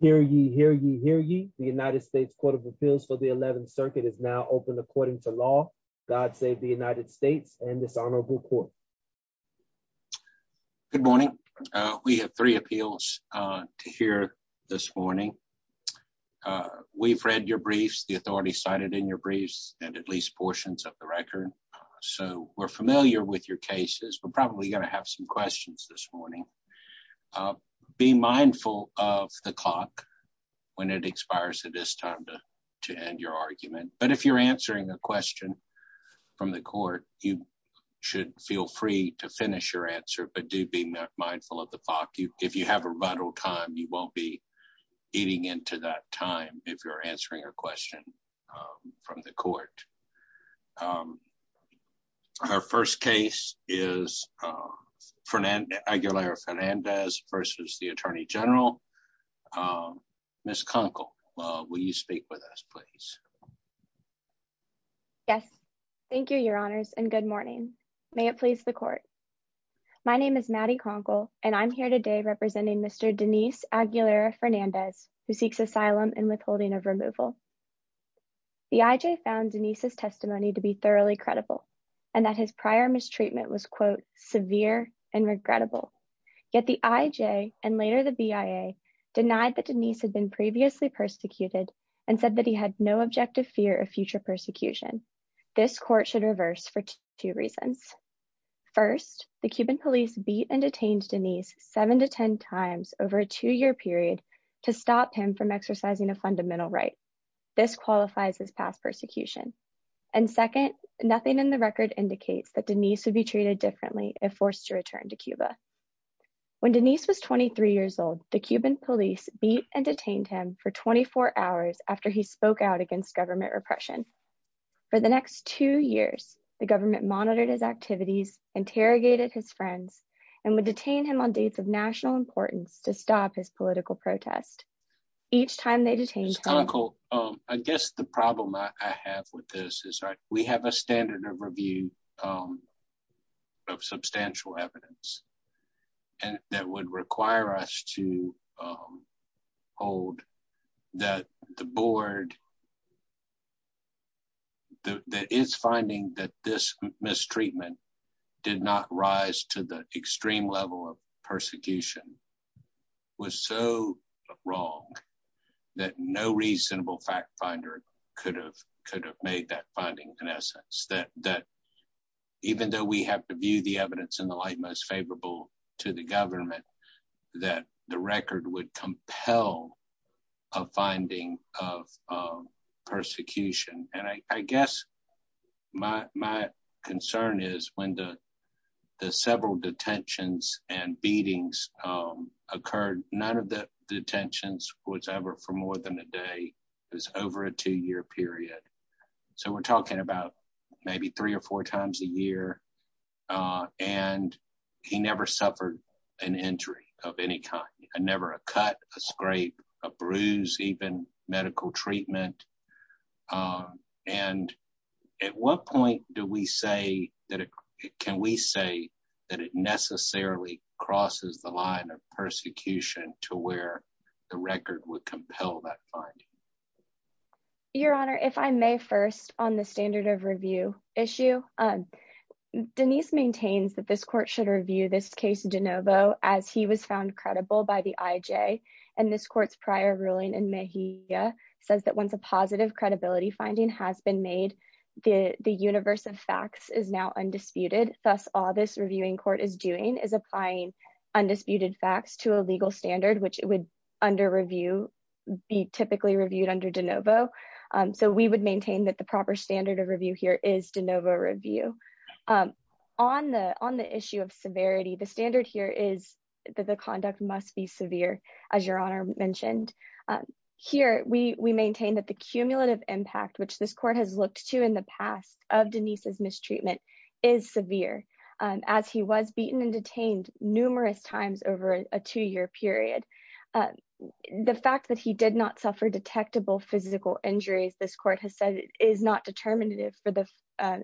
Hear ye, hear ye, hear ye. The United States Court of Appeals for the 11th Circuit is now open according to law. God save the United States and this honorable court. Good morning. We have three appeals to hear this morning. We've read your briefs, the authority cited in your briefs, and at least portions of the record, so we're familiar with your cases. We're probably going to have some questions this morning. Be mindful of the clock when it expires. It is time to end your argument, but if you're answering a question from the court, you should feel free to finish your answer, but do be mindful of the clock. If you have a rebuttal time, you won't be eating into that time if you're answering a question from the court. Our first case is Aguilera Fernandez versus the Attorney General. Ms. Conkle, will you speak with us, please? Yes. Thank you, your honors, and good morning. May it please the court. My name is Maddie Conkle, and I'm here today representing Mr. Denise Aguilera Fernandez, who seeks asylum and withholding of removal. The IJ found Denise's testimony to be thoroughly credible and that his prior mistreatment was, quote, severe and regrettable, yet the IJ and later the BIA denied that Denise had been previously persecuted and said that he had no objective fear of future persecution. This court should reverse for two reasons. First, the Cuban police beat and detained Denise seven to ten times over a two-year period to stop him from exercising a fundamental right. This qualifies as past persecution. And second, nothing in the record indicates that Denise would be treated differently if forced to return to Cuba. When Denise was 23 years old, the Cuban police beat and detained him for 24 hours after he spoke out against government repression. For the next two years, the government monitored his activities, interrogated his friends, and would detain him on dates of national importance to stop his political protest. Each time they detained him- Ms. Conkle, I guess the problem I have with this is we have a standard of review of substantial evidence that would require us to hold that the board that is finding that this mistreatment did not rise to the extreme level of persecution was so wrong that no reasonable fact finder could have made that finding in essence. Even though we have to view the evidence in the light most favorable to the government, that the record would compel a finding of persecution. And I guess my concern is when the several detentions and beatings occurred, none of the detentions was ever for more than a day. It was over a two-year period. So we're talking about maybe three or four times a year. And he never suffered an injury of any kind. Never a cut, a scrape, a bruise, even medical treatment. And at what point do we say that it can we say that it necessarily crosses the line of fraud? Your Honor, if I may first on the standard of review issue, Denise maintains that this court should review this case de novo as he was found credible by the IJ. And this court's prior ruling in Mejia says that once a positive credibility finding has been made, the universe of facts is now undisputed. Thus all this reviewing court is doing is applying undisputed facts to a legal standard, which would under review be typically reviewed under de novo. So we would maintain that the proper standard of review here is de novo review. On the issue of severity, the standard here is that the conduct must be severe, as Your Honor mentioned. Here we maintain that the cumulative impact, which this court has looked to in the past of Denise's mistreatment, is severe. As he was beaten and detained numerous times over a two-year period. The fact that he did not suffer detectable physical injuries, this court has said, is not determinative for the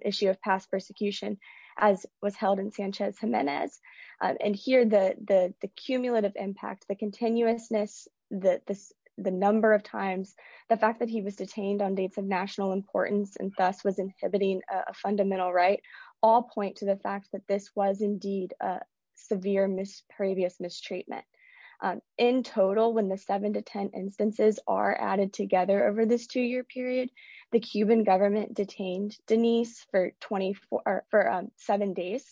issue of past persecution as was held in Sanchez-Gimenez. And here the cumulative impact, the continuousness, the number of times, the fact that he was detained on dates of national importance and thus inhibiting a fundamental right, all point to the fact that this was indeed a severe previous mistreatment. In total, when the seven to ten instances are added together over this two-year period, the Cuban government detained Denise for seven days.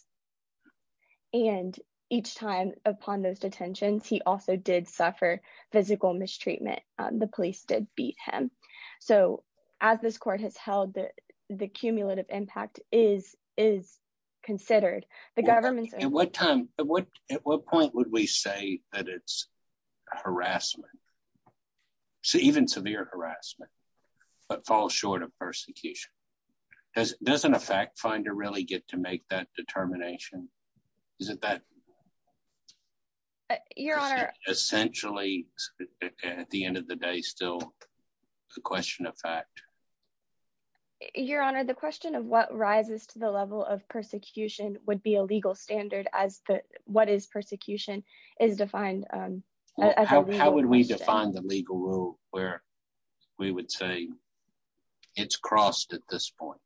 And each time upon those detentions, he also did suffer physical mistreatment. The police did beat him. So as this court has held the cumulative impact is considered. At what point would we say that it's harassment, even severe harassment, but falls short of persecution? Doesn't a fact finder really get to make that determination? Isn't that essentially, at the end of the day, still a question of fact? Your Honor, the question of what rises to the level of persecution would be a legal standard as what is persecution is defined. How would we define the legal rule where we would say it's crossed at this point?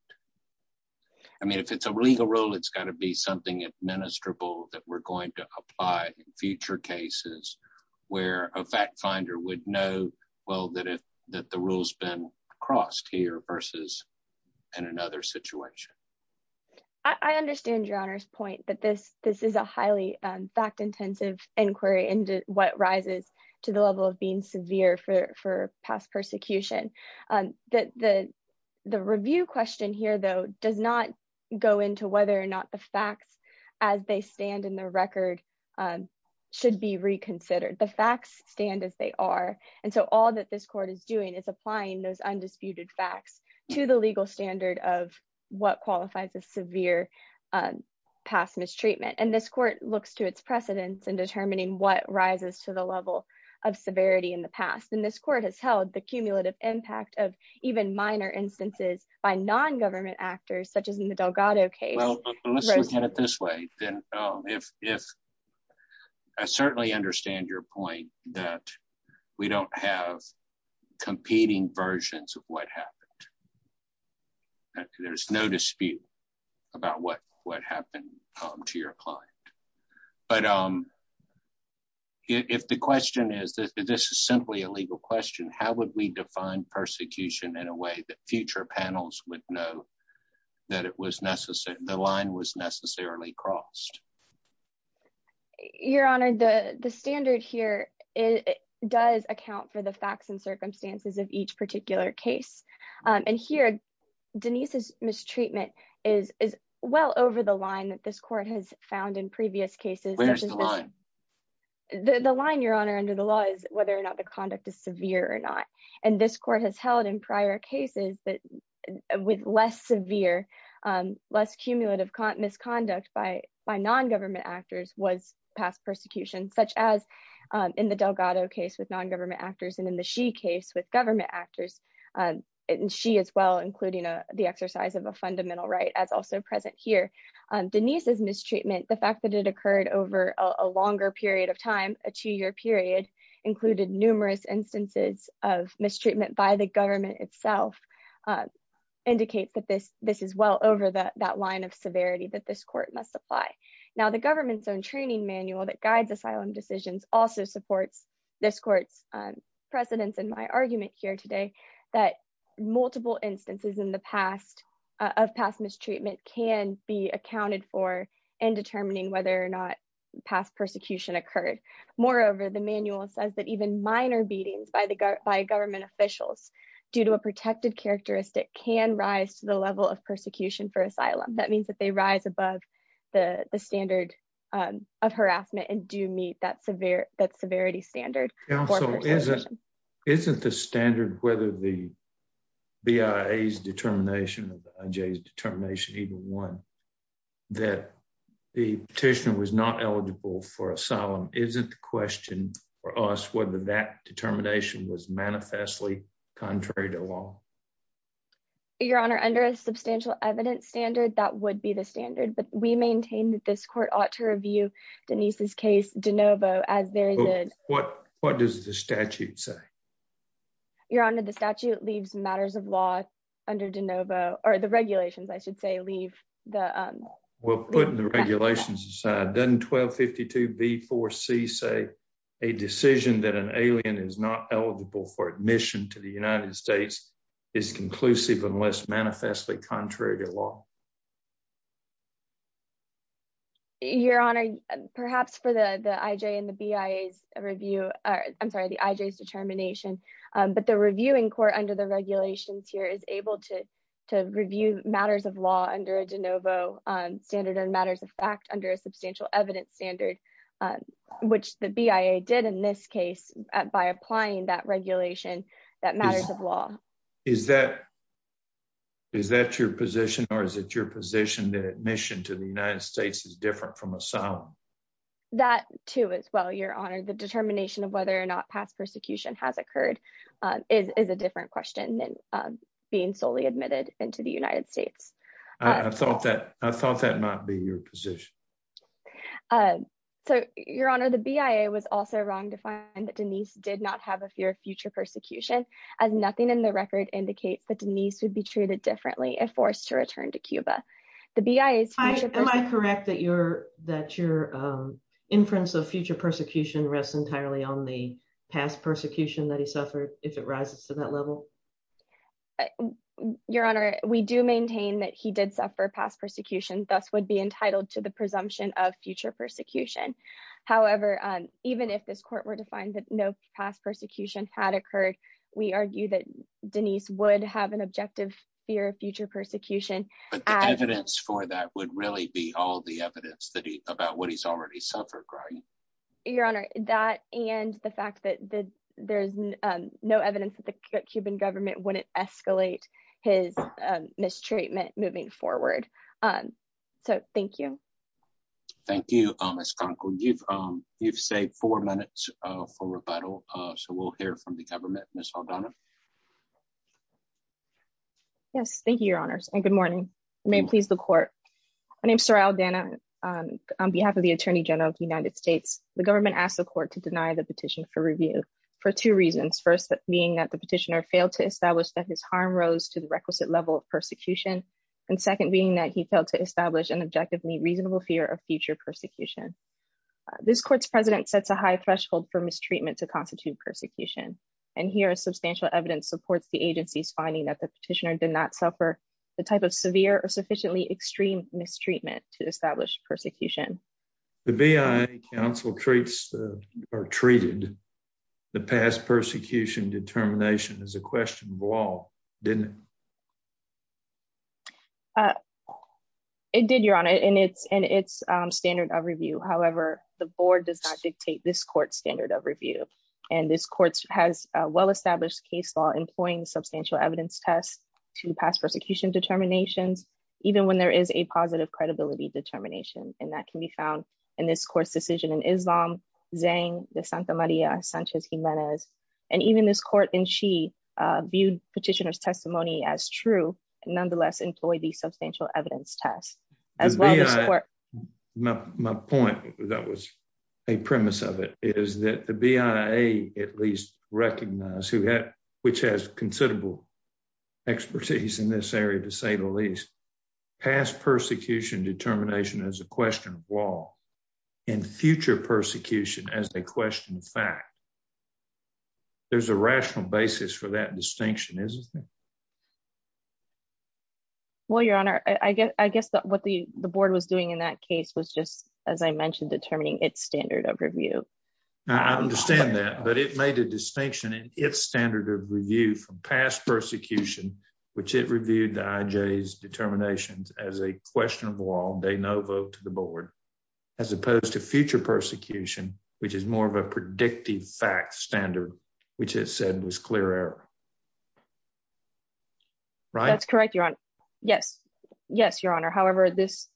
I mean, if it's a legal rule, it's got to be something administrable that we're going to apply in future cases where a fact finder would know, well, that the rule's been crossed here versus in another situation. I understand Your Honor's point that this is a highly fact-intensive inquiry into what rises to the level of being severe for past persecution. The review question here, though, does not go into whether or not the facts as they stand in the record should be reconsidered. The facts stand as they are. And so all that this court is doing is applying those undisputed facts to the legal standard of what qualifies as severe past mistreatment. And this court looks to its precedents in determining what rises to the level of severity in the past. And this court has held the cumulative impact of even minor instances by non-government actors, such as in the Delgado case. Well, let's look at it this way. I certainly understand your point that we don't have competing versions of what happened. There's no dispute about what happened to your client. But if the question is that this is simply a legal question, how would we define persecution in a way that future panels would know that the line was necessarily crossed? Your Honor, the standard here does account for the facts and circumstances of each particular case. And here, Denise's mistreatment is well over the line that this court has found in previous cases. The line, Your Honor, under the law is whether or not the conduct is severe or not. And this court has held in prior cases that with less severe, less cumulative misconduct by non-government actors was past persecution, such as in the Delgado case with non-government actors and in the Xi case with government actors, Xi as well, including the exercise of a fundamental right as also present here. Denise's mistreatment, the fact that it occurred over a longer period of time, a two-year period, included numerous instances of mistreatment by the government itself indicates that this is well over that line of severity that this court must apply. Now, the government's own training manual that guides asylum decisions also supports this court's precedence in my argument here today that multiple instances in the past of past mistreatment can be accounted for in determining whether or not past persecution occurred. Moreover, the manual says that even minor beatings by government officials due to a protected characteristic can rise to the level of persecution for asylum. That means that they also isn't the standard, whether the BIA's determination or the IJ's determination, either one, that the petitioner was not eligible for asylum, isn't the question for us whether that determination was manifestly contrary to law. Your Honor, under a substantial evidence standard, that would be the standard, but we maintain that this court ought to review Denise's case de novo as very good. What does the statute say? Your Honor, the statute leaves matters of law under de novo, or the regulations, I should say, leave the... Well, putting the regulations aside, doesn't 1252b4c say a decision that an alien is not eligible for admission to the United States is conclusive unless manifestly contrary to law? Your Honor, perhaps for the IJ and the BIA's review, I'm sorry, the IJ's determination, but the reviewing court under the regulations here is able to review matters of law under a de novo standard and matters of fact under a substantial evidence standard, which the BIA did in this case by applying that regulation, that matters of law. Is that your position, or is it your position that admission to the United States is different from asylum? That too, as well, Your Honor. The determination of whether or not past persecution has occurred is a different question than being solely admitted into the United States. I thought that might be your position. So, Your Honor, the BIA was also wrong to find that Denise did not have a fear of future persecution, as nothing in the record indicates that Denise would be treated differently if forced to return to Cuba. The BIA... Am I correct that your inference of future persecution rests entirely on the past persecution that he suffered, if it rises to that level? Your Honor, we do maintain that he did suffer past persecution, thus would be entitled to the presumption of future persecution. However, even if this court were to find that no past persecution had occurred, we argue that Denise would have an objective fear of future persecution. But the evidence for that would really be all the evidence about what he's already suffered, right? Your Honor, that and the fact that there's no evidence that the Cuban government wouldn't escalate his mistreatment moving forward. So, thank you. Thank you, Ms. Canco. You've saved four minutes for rebuttal, so we'll hear from the government. Ms. Aldana. Yes, thank you, Your Honors, and good morning. May it please the court. My name is Soraya Aldana. On behalf of the Attorney General of the United States, the government asked the court to deny the petition for review for two reasons. First, being that the petitioner failed to establish that his harm rose to the requisite level of persecution. And second, being that he failed to establish a reasonable fear of future persecution. This court's president sets a high threshold for mistreatment to constitute persecution, and here substantial evidence supports the agency's finding that the petitioner did not suffer the type of severe or sufficiently extreme mistreatment to establish persecution. The BIA counsel treats or treated the past persecution determination as a question of law, didn't it? It did, Your Honor, and it's standard of review. However, the board does not dictate this court's standard of review, and this court has a well-established case law employing substantial evidence tests to pass persecution determinations, even when there is a positive credibility determination, and that can be found in this court's decision in Islam, Zayn de Santa Maria Sanchez Jimenez, and even this court in Xi viewed petitioner's testimony as true, nonetheless employ these substantial evidence tests. My point, that was a premise of it, is that the BIA at least recognized, which has considerable expertise in this area to say the least, past persecution determination as a question of law, and future persecution as a question of fact. There's a rational basis for that distinction, isn't there? Well, Your Honor, I guess that what the board was doing in that case was just, as I mentioned, determining its standard of review. I understand that, but it made a distinction in its standard of review from past persecution, which it reviewed the IJ's determinations as a question of law, they no vote to the board, as opposed to future persecution, which is more of a predictive fact standard, which it said was clear error. That's correct, Your Honor. Yes. Yes, Your Honor. However, this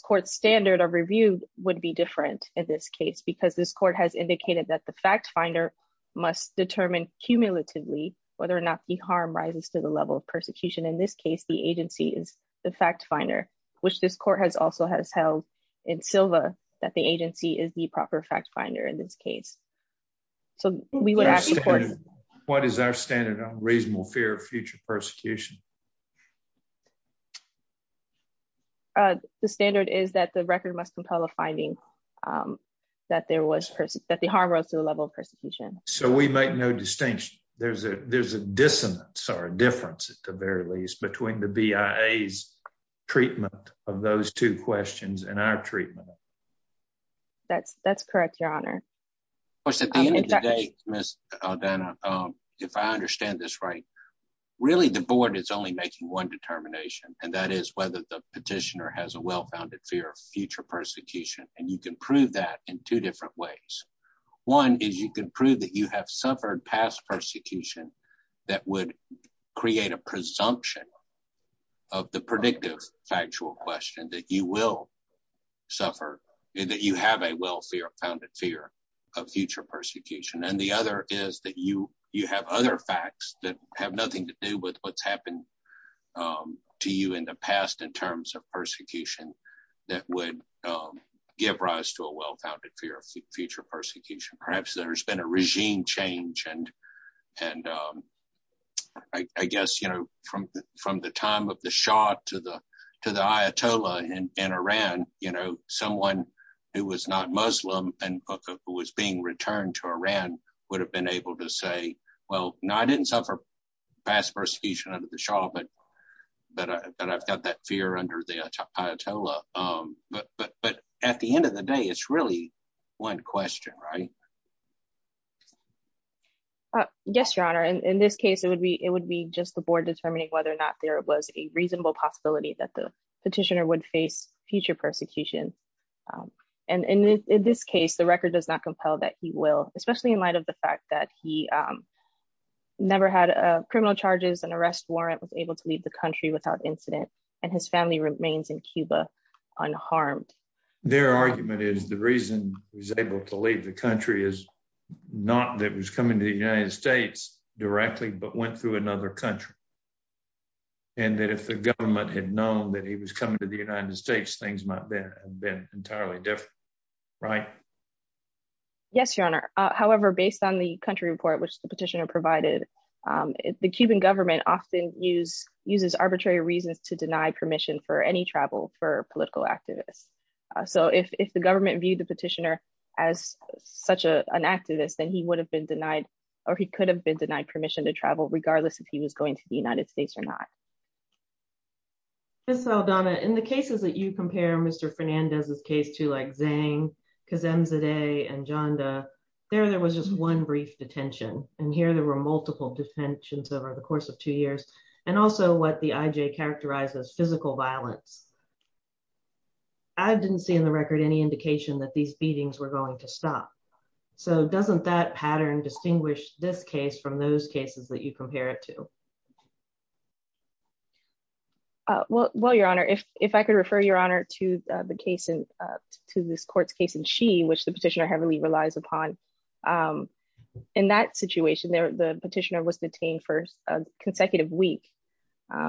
court's standard of review would be different in this case, because this court has indicated that the fact finder must determine cumulatively whether or not the harm rises to the level of persecution. In this case, the agency is the fact finder, which this court has also has held in silver, that the agency is the proper fact finder in this case. So we would ask the court... What is our standard on reasonable fear of future persecution? The standard is that the record must compel a finding So we make no distinction. There's a dissonance or a difference, at the very least, between the BIA's treatment of those two questions and our treatment. That's correct, Your Honor. If I understand this right, really, the board is only making one determination, and that is whether the petitioner has a well-founded fear of future persecution. You can prove that in two different ways. One is you can prove that you have suffered past persecution that would create a presumption of the predictive factual question that you will suffer, that you have a well-founded fear of future persecution. The other is that you have other facts that have nothing to do with what's happened to you in the past in terms of give rise to a well-founded fear of future persecution. Perhaps there's been a regime change. From the time of the Shah to the Ayatollah in Iran, someone who was not Muslim and who was being returned to Iran would have been able to say, I didn't suffer past persecution under the Shah, but I've got that fear under the Ayatollah. At the end of the day, it's really one question, right? Yes, Your Honor. In this case, it would be just the board determining whether or not there was a reasonable possibility that the petitioner would face future persecution. In this case, the record does not compel that he will, especially in light of the fact that he never had criminal charges, an arrest warrant, was able to leave the country without incident, and his family remains in Cuba unharmed. Their argument is the reason he was able to leave the country is not that he was coming to the United States directly, but went through another country, and that if the government had known that he was coming to the United States, things might have been entirely different, right? Yes, Your Honor. However, based on the report which the petitioner provided, the Cuban government often uses arbitrary reasons to deny permission for any travel for political activists. So, if the government viewed the petitioner as such an activist, then he would have been denied, or he could have been denied permission to travel regardless if he was going to the United States or not. Ms. Aldana, in the cases that you compare Mr. Fernandez's case to, like Zhang, Kazemzadeh, and Janda, there was just one brief detention, and here there were multiple detentions over the course of two years, and also what the IJ characterized as physical violence. I didn't see in the record any indication that these beatings were going to stop. So, doesn't that pattern distinguish this case from those cases that you compare it to? Well, Your Honor, if I could refer Your Honor to this court's case in Xi, which the petitioner heavily relies upon. In that situation, the petitioner was detained for a consecutive week,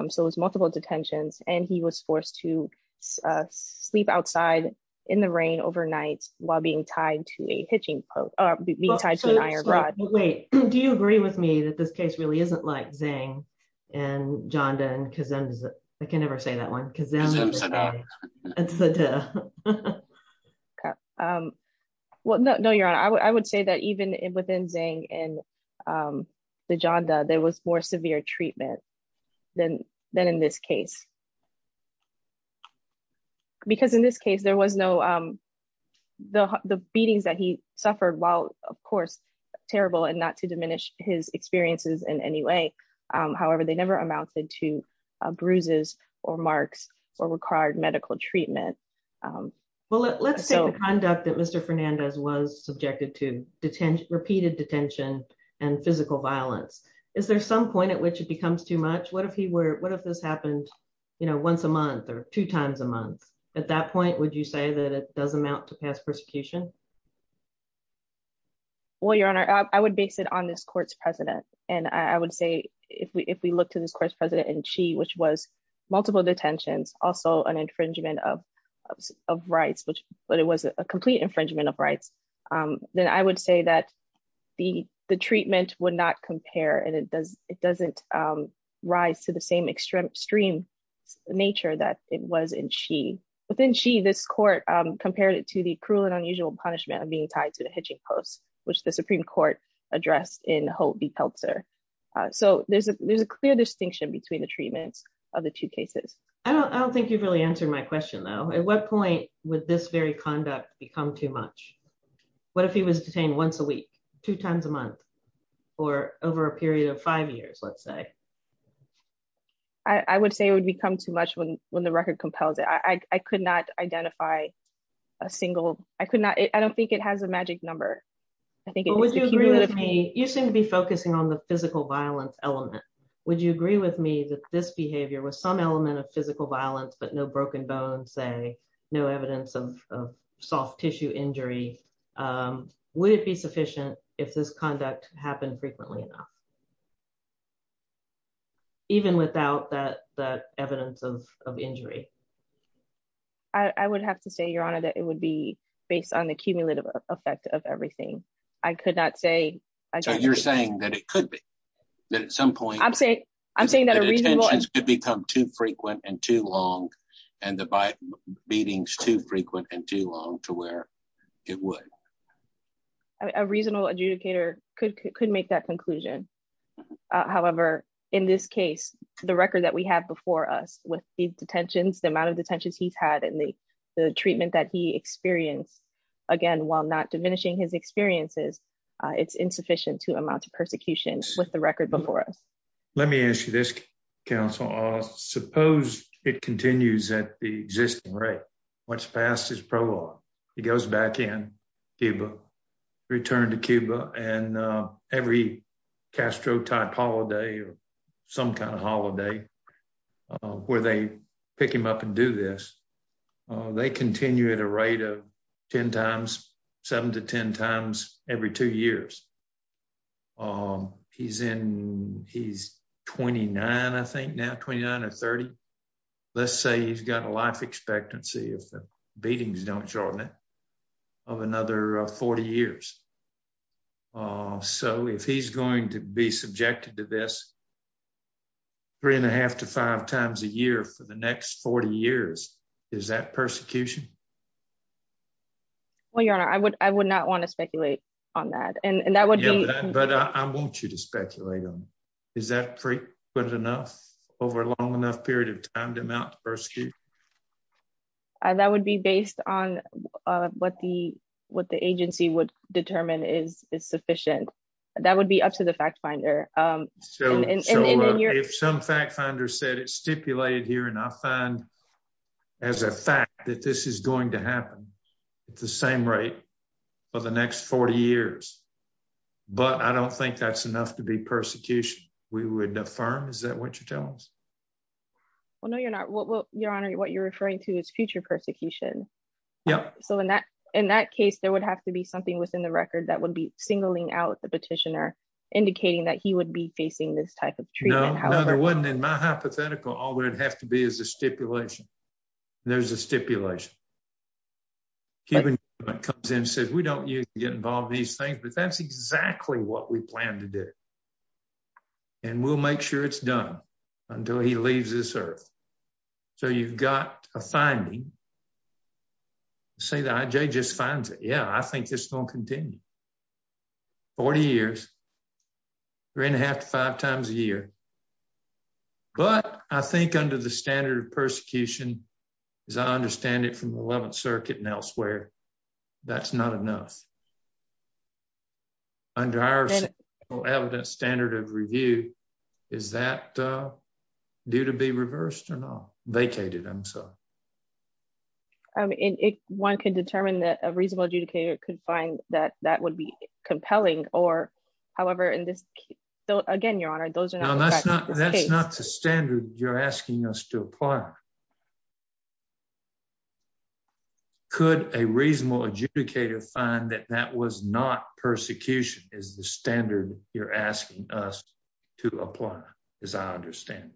so it was multiple detentions, and he was forced to sleep outside in the rain overnight while being tied to an iron rod. Wait, do you agree with me that this case really isn't like Zhang and Janda and Kazemzadeh? I can never say that one. Well, no, Your Honor. I would say that even within Zhang and the Janda, there was more severe treatment than in this case, because in this case, there was no, the beatings that he suffered, while, of course, terrible, and not to diminish his experiences in any way. However, they never amounted to bruises or marks or required medical treatment. Well, let's say the conduct that Mr. Fernandez was subjected to repeated detention and physical violence. Is there some point at which it becomes too much? What if this happened once a month or two times a month? At that point, would you say that it doesn't amount to past persecution? Well, Your Honor, I would base it on this court's president, and I would say if we look to this court's president in Xi, which was multiple detentions, also an infringement of rights, but it was a complete infringement of rights to the same extreme nature that it was in Xi. Within Xi, this court compared it to the cruel and unusual punishment of being tied to the hitching post, which the Supreme Court addressed in Hou Bipao Sir. So there's a clear distinction between the treatments of the two cases. I don't think you've really answered my question, though. At what point would this very conduct become too much? What if he was detained once a week, two times a month, or over a period of five years, let's say? I would say it would become too much when the record compels it. I could not identify a single, I could not, I don't think it has a magic number. Would you agree with me, you seem to be focusing on the physical violence element. Would you agree with me that this behavior was some element of physical violence, but no broken bones, no evidence of soft tissue injury? Would it be sufficient if this conduct happened frequently enough, even without that evidence of injury? I would have to say, Your Honor, that it would be based on the cumulative effect of everything. I could not say. So you're saying that it could be, that at some point, I'm saying, I'm saying that it could become too frequent and too long, and the beating's too frequent and too long to where it would? A reasonable adjudicator could make that conclusion. However, in this case, the record that we have before us with the detentions, the amount of detentions he's had, and the treatment that he experienced, again, while not diminishing his experiences, it's insufficient to amount to persecution with the record before us. Let me ask you this, counsel. Suppose it continues at the existing rate. What's passed is pro-law. He goes back in Cuba, returned to Cuba, and every Castro-type holiday or some kind of holiday where they pick him up and do this, they continue at a rate of 10 times, seven to 10 times every two years. He's in, he's 29, I think now, 29 or 30. Let's say he's got a life expectancy, if the beatings don't shorten it, of another 40 years. So if he's going to be subjected to this three and a half to five times a year for the next 40 years, is that persecution? Well, your honor, I would not want to speculate on that. But I want you to speculate on it. Is that frequent enough over a long enough period of time to amount to persecution? That would be based on what the agency would determine is sufficient. That would be up to the fact finder. So if some fact finder said it's stipulated here and I find as a fact that this is going to happen at the same rate for the next 40 years, but I don't think that's enough to be persecution, we would affirm. Is that what you're telling us? Well, no, your honor, what you're referring to is future persecution. Yeah. So in that case, there would have to be something within the record that would be singling out the petitioner, indicating that he would be facing this type of treatment. No, there wasn't. In my hypothetical, all there'd have to be is a stipulation. There's a stipulation. Cuban government comes in and says, we don't usually get involved in these things, but that's exactly what we plan to do. And we'll make sure it's done until he leaves this earth. So you've got a finding, say the IJ just finds it. Yeah, I think this is going to continue. 40 years, three and a half to five times a year. But I think under the standard of persecution, as I understand it from the 11th circuit and elsewhere, that's not enough. Under our evidence standard of review, is that due to be reversed or not? I mean, one can determine that a reasonable adjudicator could find that that would be compelling or however in this. So again, your honor, those are not the standard you're asking us to apply. Could a reasonable adjudicator find that that was not persecution is the standard you're asking us to apply, as I understand.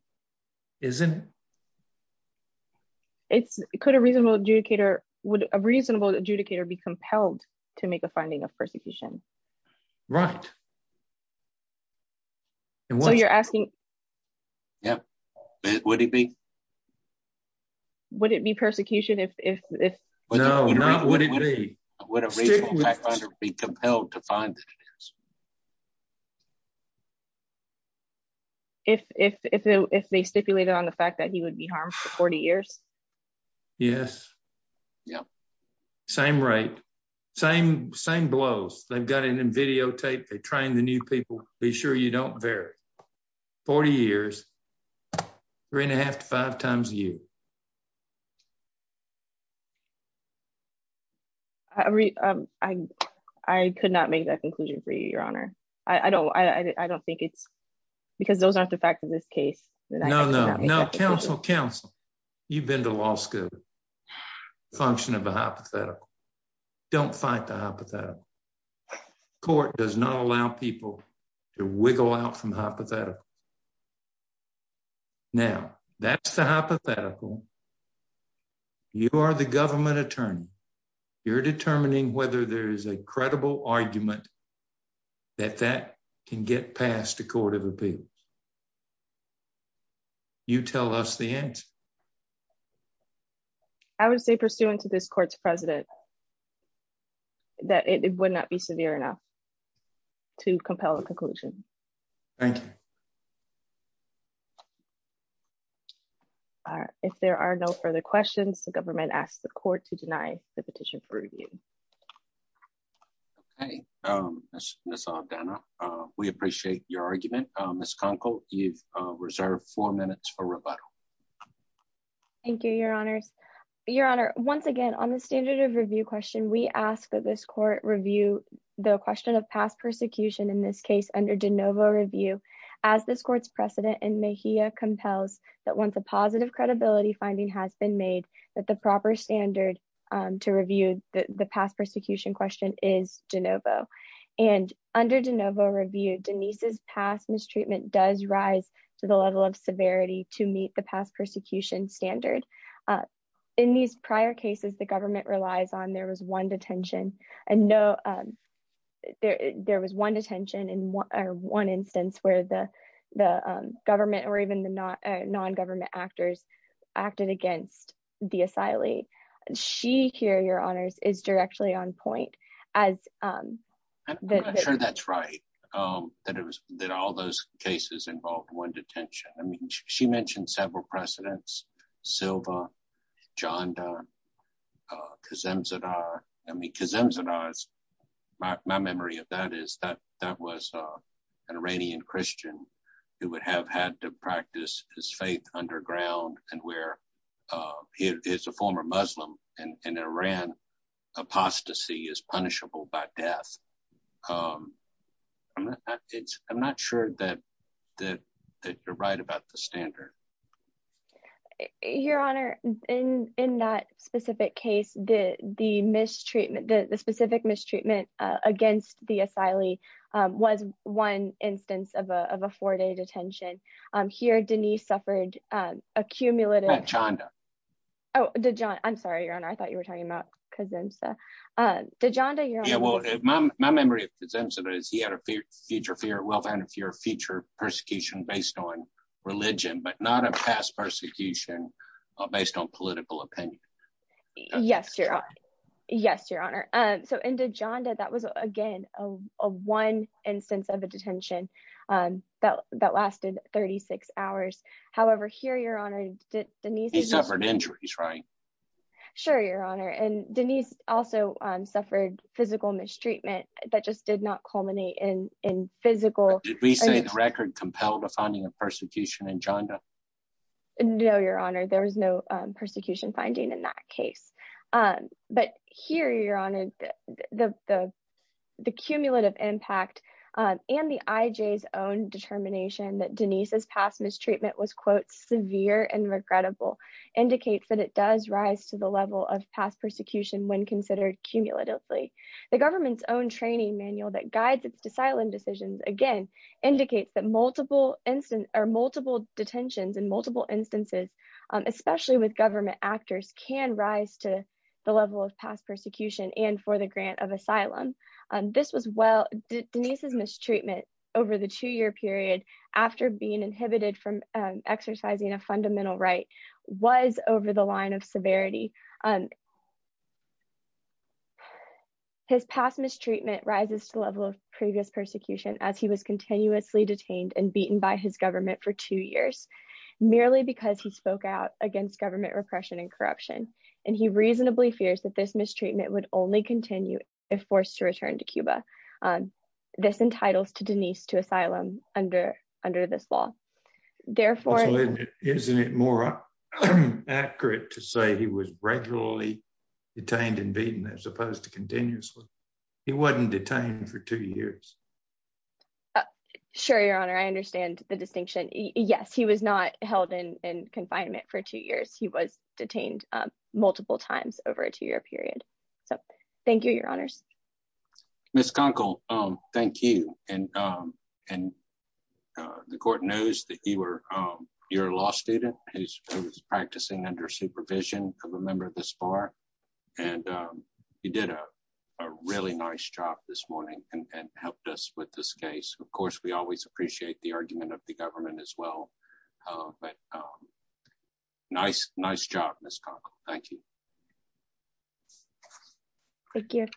It's could a reasonable adjudicator, would a reasonable adjudicator be compelled to make a finding of persecution? Right. And what you're asking? Yeah. Would it be? Would it be persecution if? No, not would it be? Would a reasonable adjudicator be compelled to find it? If they stipulated on the fact that he would be harmed for 40 years. Yes. Yeah. Same rate. Same blows. They've got it in videotape. They train the new people. Be sure you don't vary. 40 years, three and a half to five times a year. I could not make that conclusion for you, your honor. I don't I don't think it's because those aren't the fact of this case. No, no, no. Counsel, counsel. You've been to law school. Function of a hypothetical. Don't fight the hypothetical. Court does not allow people to wiggle out from the hypothetical. Now, that's the hypothetical. You are the government attorney. You're determining whether there is a credible argument that that can get past a court of appeals. You tell us the answer. I would say pursuant to this court's president. That it would not be severe enough. To compel a conclusion. Thank you. If there are no further questions, the government asks the court to deny the petition for review. Hey, Miss Aldana, we appreciate your argument. Ms. Conkle, you've reserved four minutes for rebuttal. Thank you, your honors, your honor. Once again, on the standard of review question, we ask that this court review the question of past persecution in this case under DeNovo review as this court's precedent in Mejia compels that once a positive credibility finding has been made that the proper standard to review the past persecution question is DeNovo and under DeNovo review, Denise's past mistreatment does rise to the level of severity to meet the past persecution standard. In these prior cases, the government relies on there was one detention. And no, there was one detention in one instance where the government or even the non-government actors acted against the asylee. She here, your honors, is directly on point as I'm not sure that's right, that it was that all those cases involved one detention. I mean, she mentioned several precedents. Silva, John Donne, Kazemzadar. I mean, Kazemzadar is my memory of that is that that was an Iranian Christian who would have had to practice his death. I'm not sure that you're right about the standard. Your honor, in that specific case, the mistreatment, the specific mistreatment against the asylee was one instance of a four-day detention. Here, Denise suffered a cumulative. Oh, I'm sorry, your honor. I thought you were talking about Kazemzadar. Dejonda, your honor. Yeah, well, my memory of Kazemzadar is he had a future fear of wealth and a future persecution based on religion, but not a past persecution based on political opinion. Yes, your honor. Yes, your honor. So in Dejonda, that was, again, a one instance of a detention that lasted 36 hours. However, here, your honor, Denise suffered injuries, right? Sure, your honor. And Denise also suffered physical mistreatment that just did not culminate in physical. Did we say the record compelled a finding of persecution in Dejonda? No, your honor. There was no persecution finding in that case. But here, your honor, the cumulative impact and the IJ's own determination that Denise's past mistreatment was, quote, severe and regrettable indicates that it does rise to the level of past persecution when considered cumulatively. The government's own training manual that guides asylum decisions, again, indicates that multiple detentions in multiple instances, especially with government actors, can rise to the level of past persecution and for the grant of asylum. This was Denise's treatment over the two year period after being inhibited from exercising a fundamental right was over the line of severity. His past mistreatment rises to the level of previous persecution as he was continuously detained and beaten by his government for two years, merely because he spoke out against government repression and corruption. And he reasonably fears that this mistreatment would only continue if forced to return to Cuba. And this entitles to Denise to asylum under under this law. Therefore, isn't it more accurate to say he was regularly detained and beaten as opposed to continuously? He wasn't detained for two years. Sure, your honor, I understand the distinction. Yes, he was not held in confinement for two years. He was detained multiple times over a two year period. So thank you, your honors. Ms. Conkle, thank you. And, and the court knows that you were your law student who's practicing under supervision of a member of the SPAR. And you did a really nice job this morning and helped us with this case. Of course, we always appreciate the argument of the government as well. But nice, nice job, Ms. Conkle. Thank you. Thank you.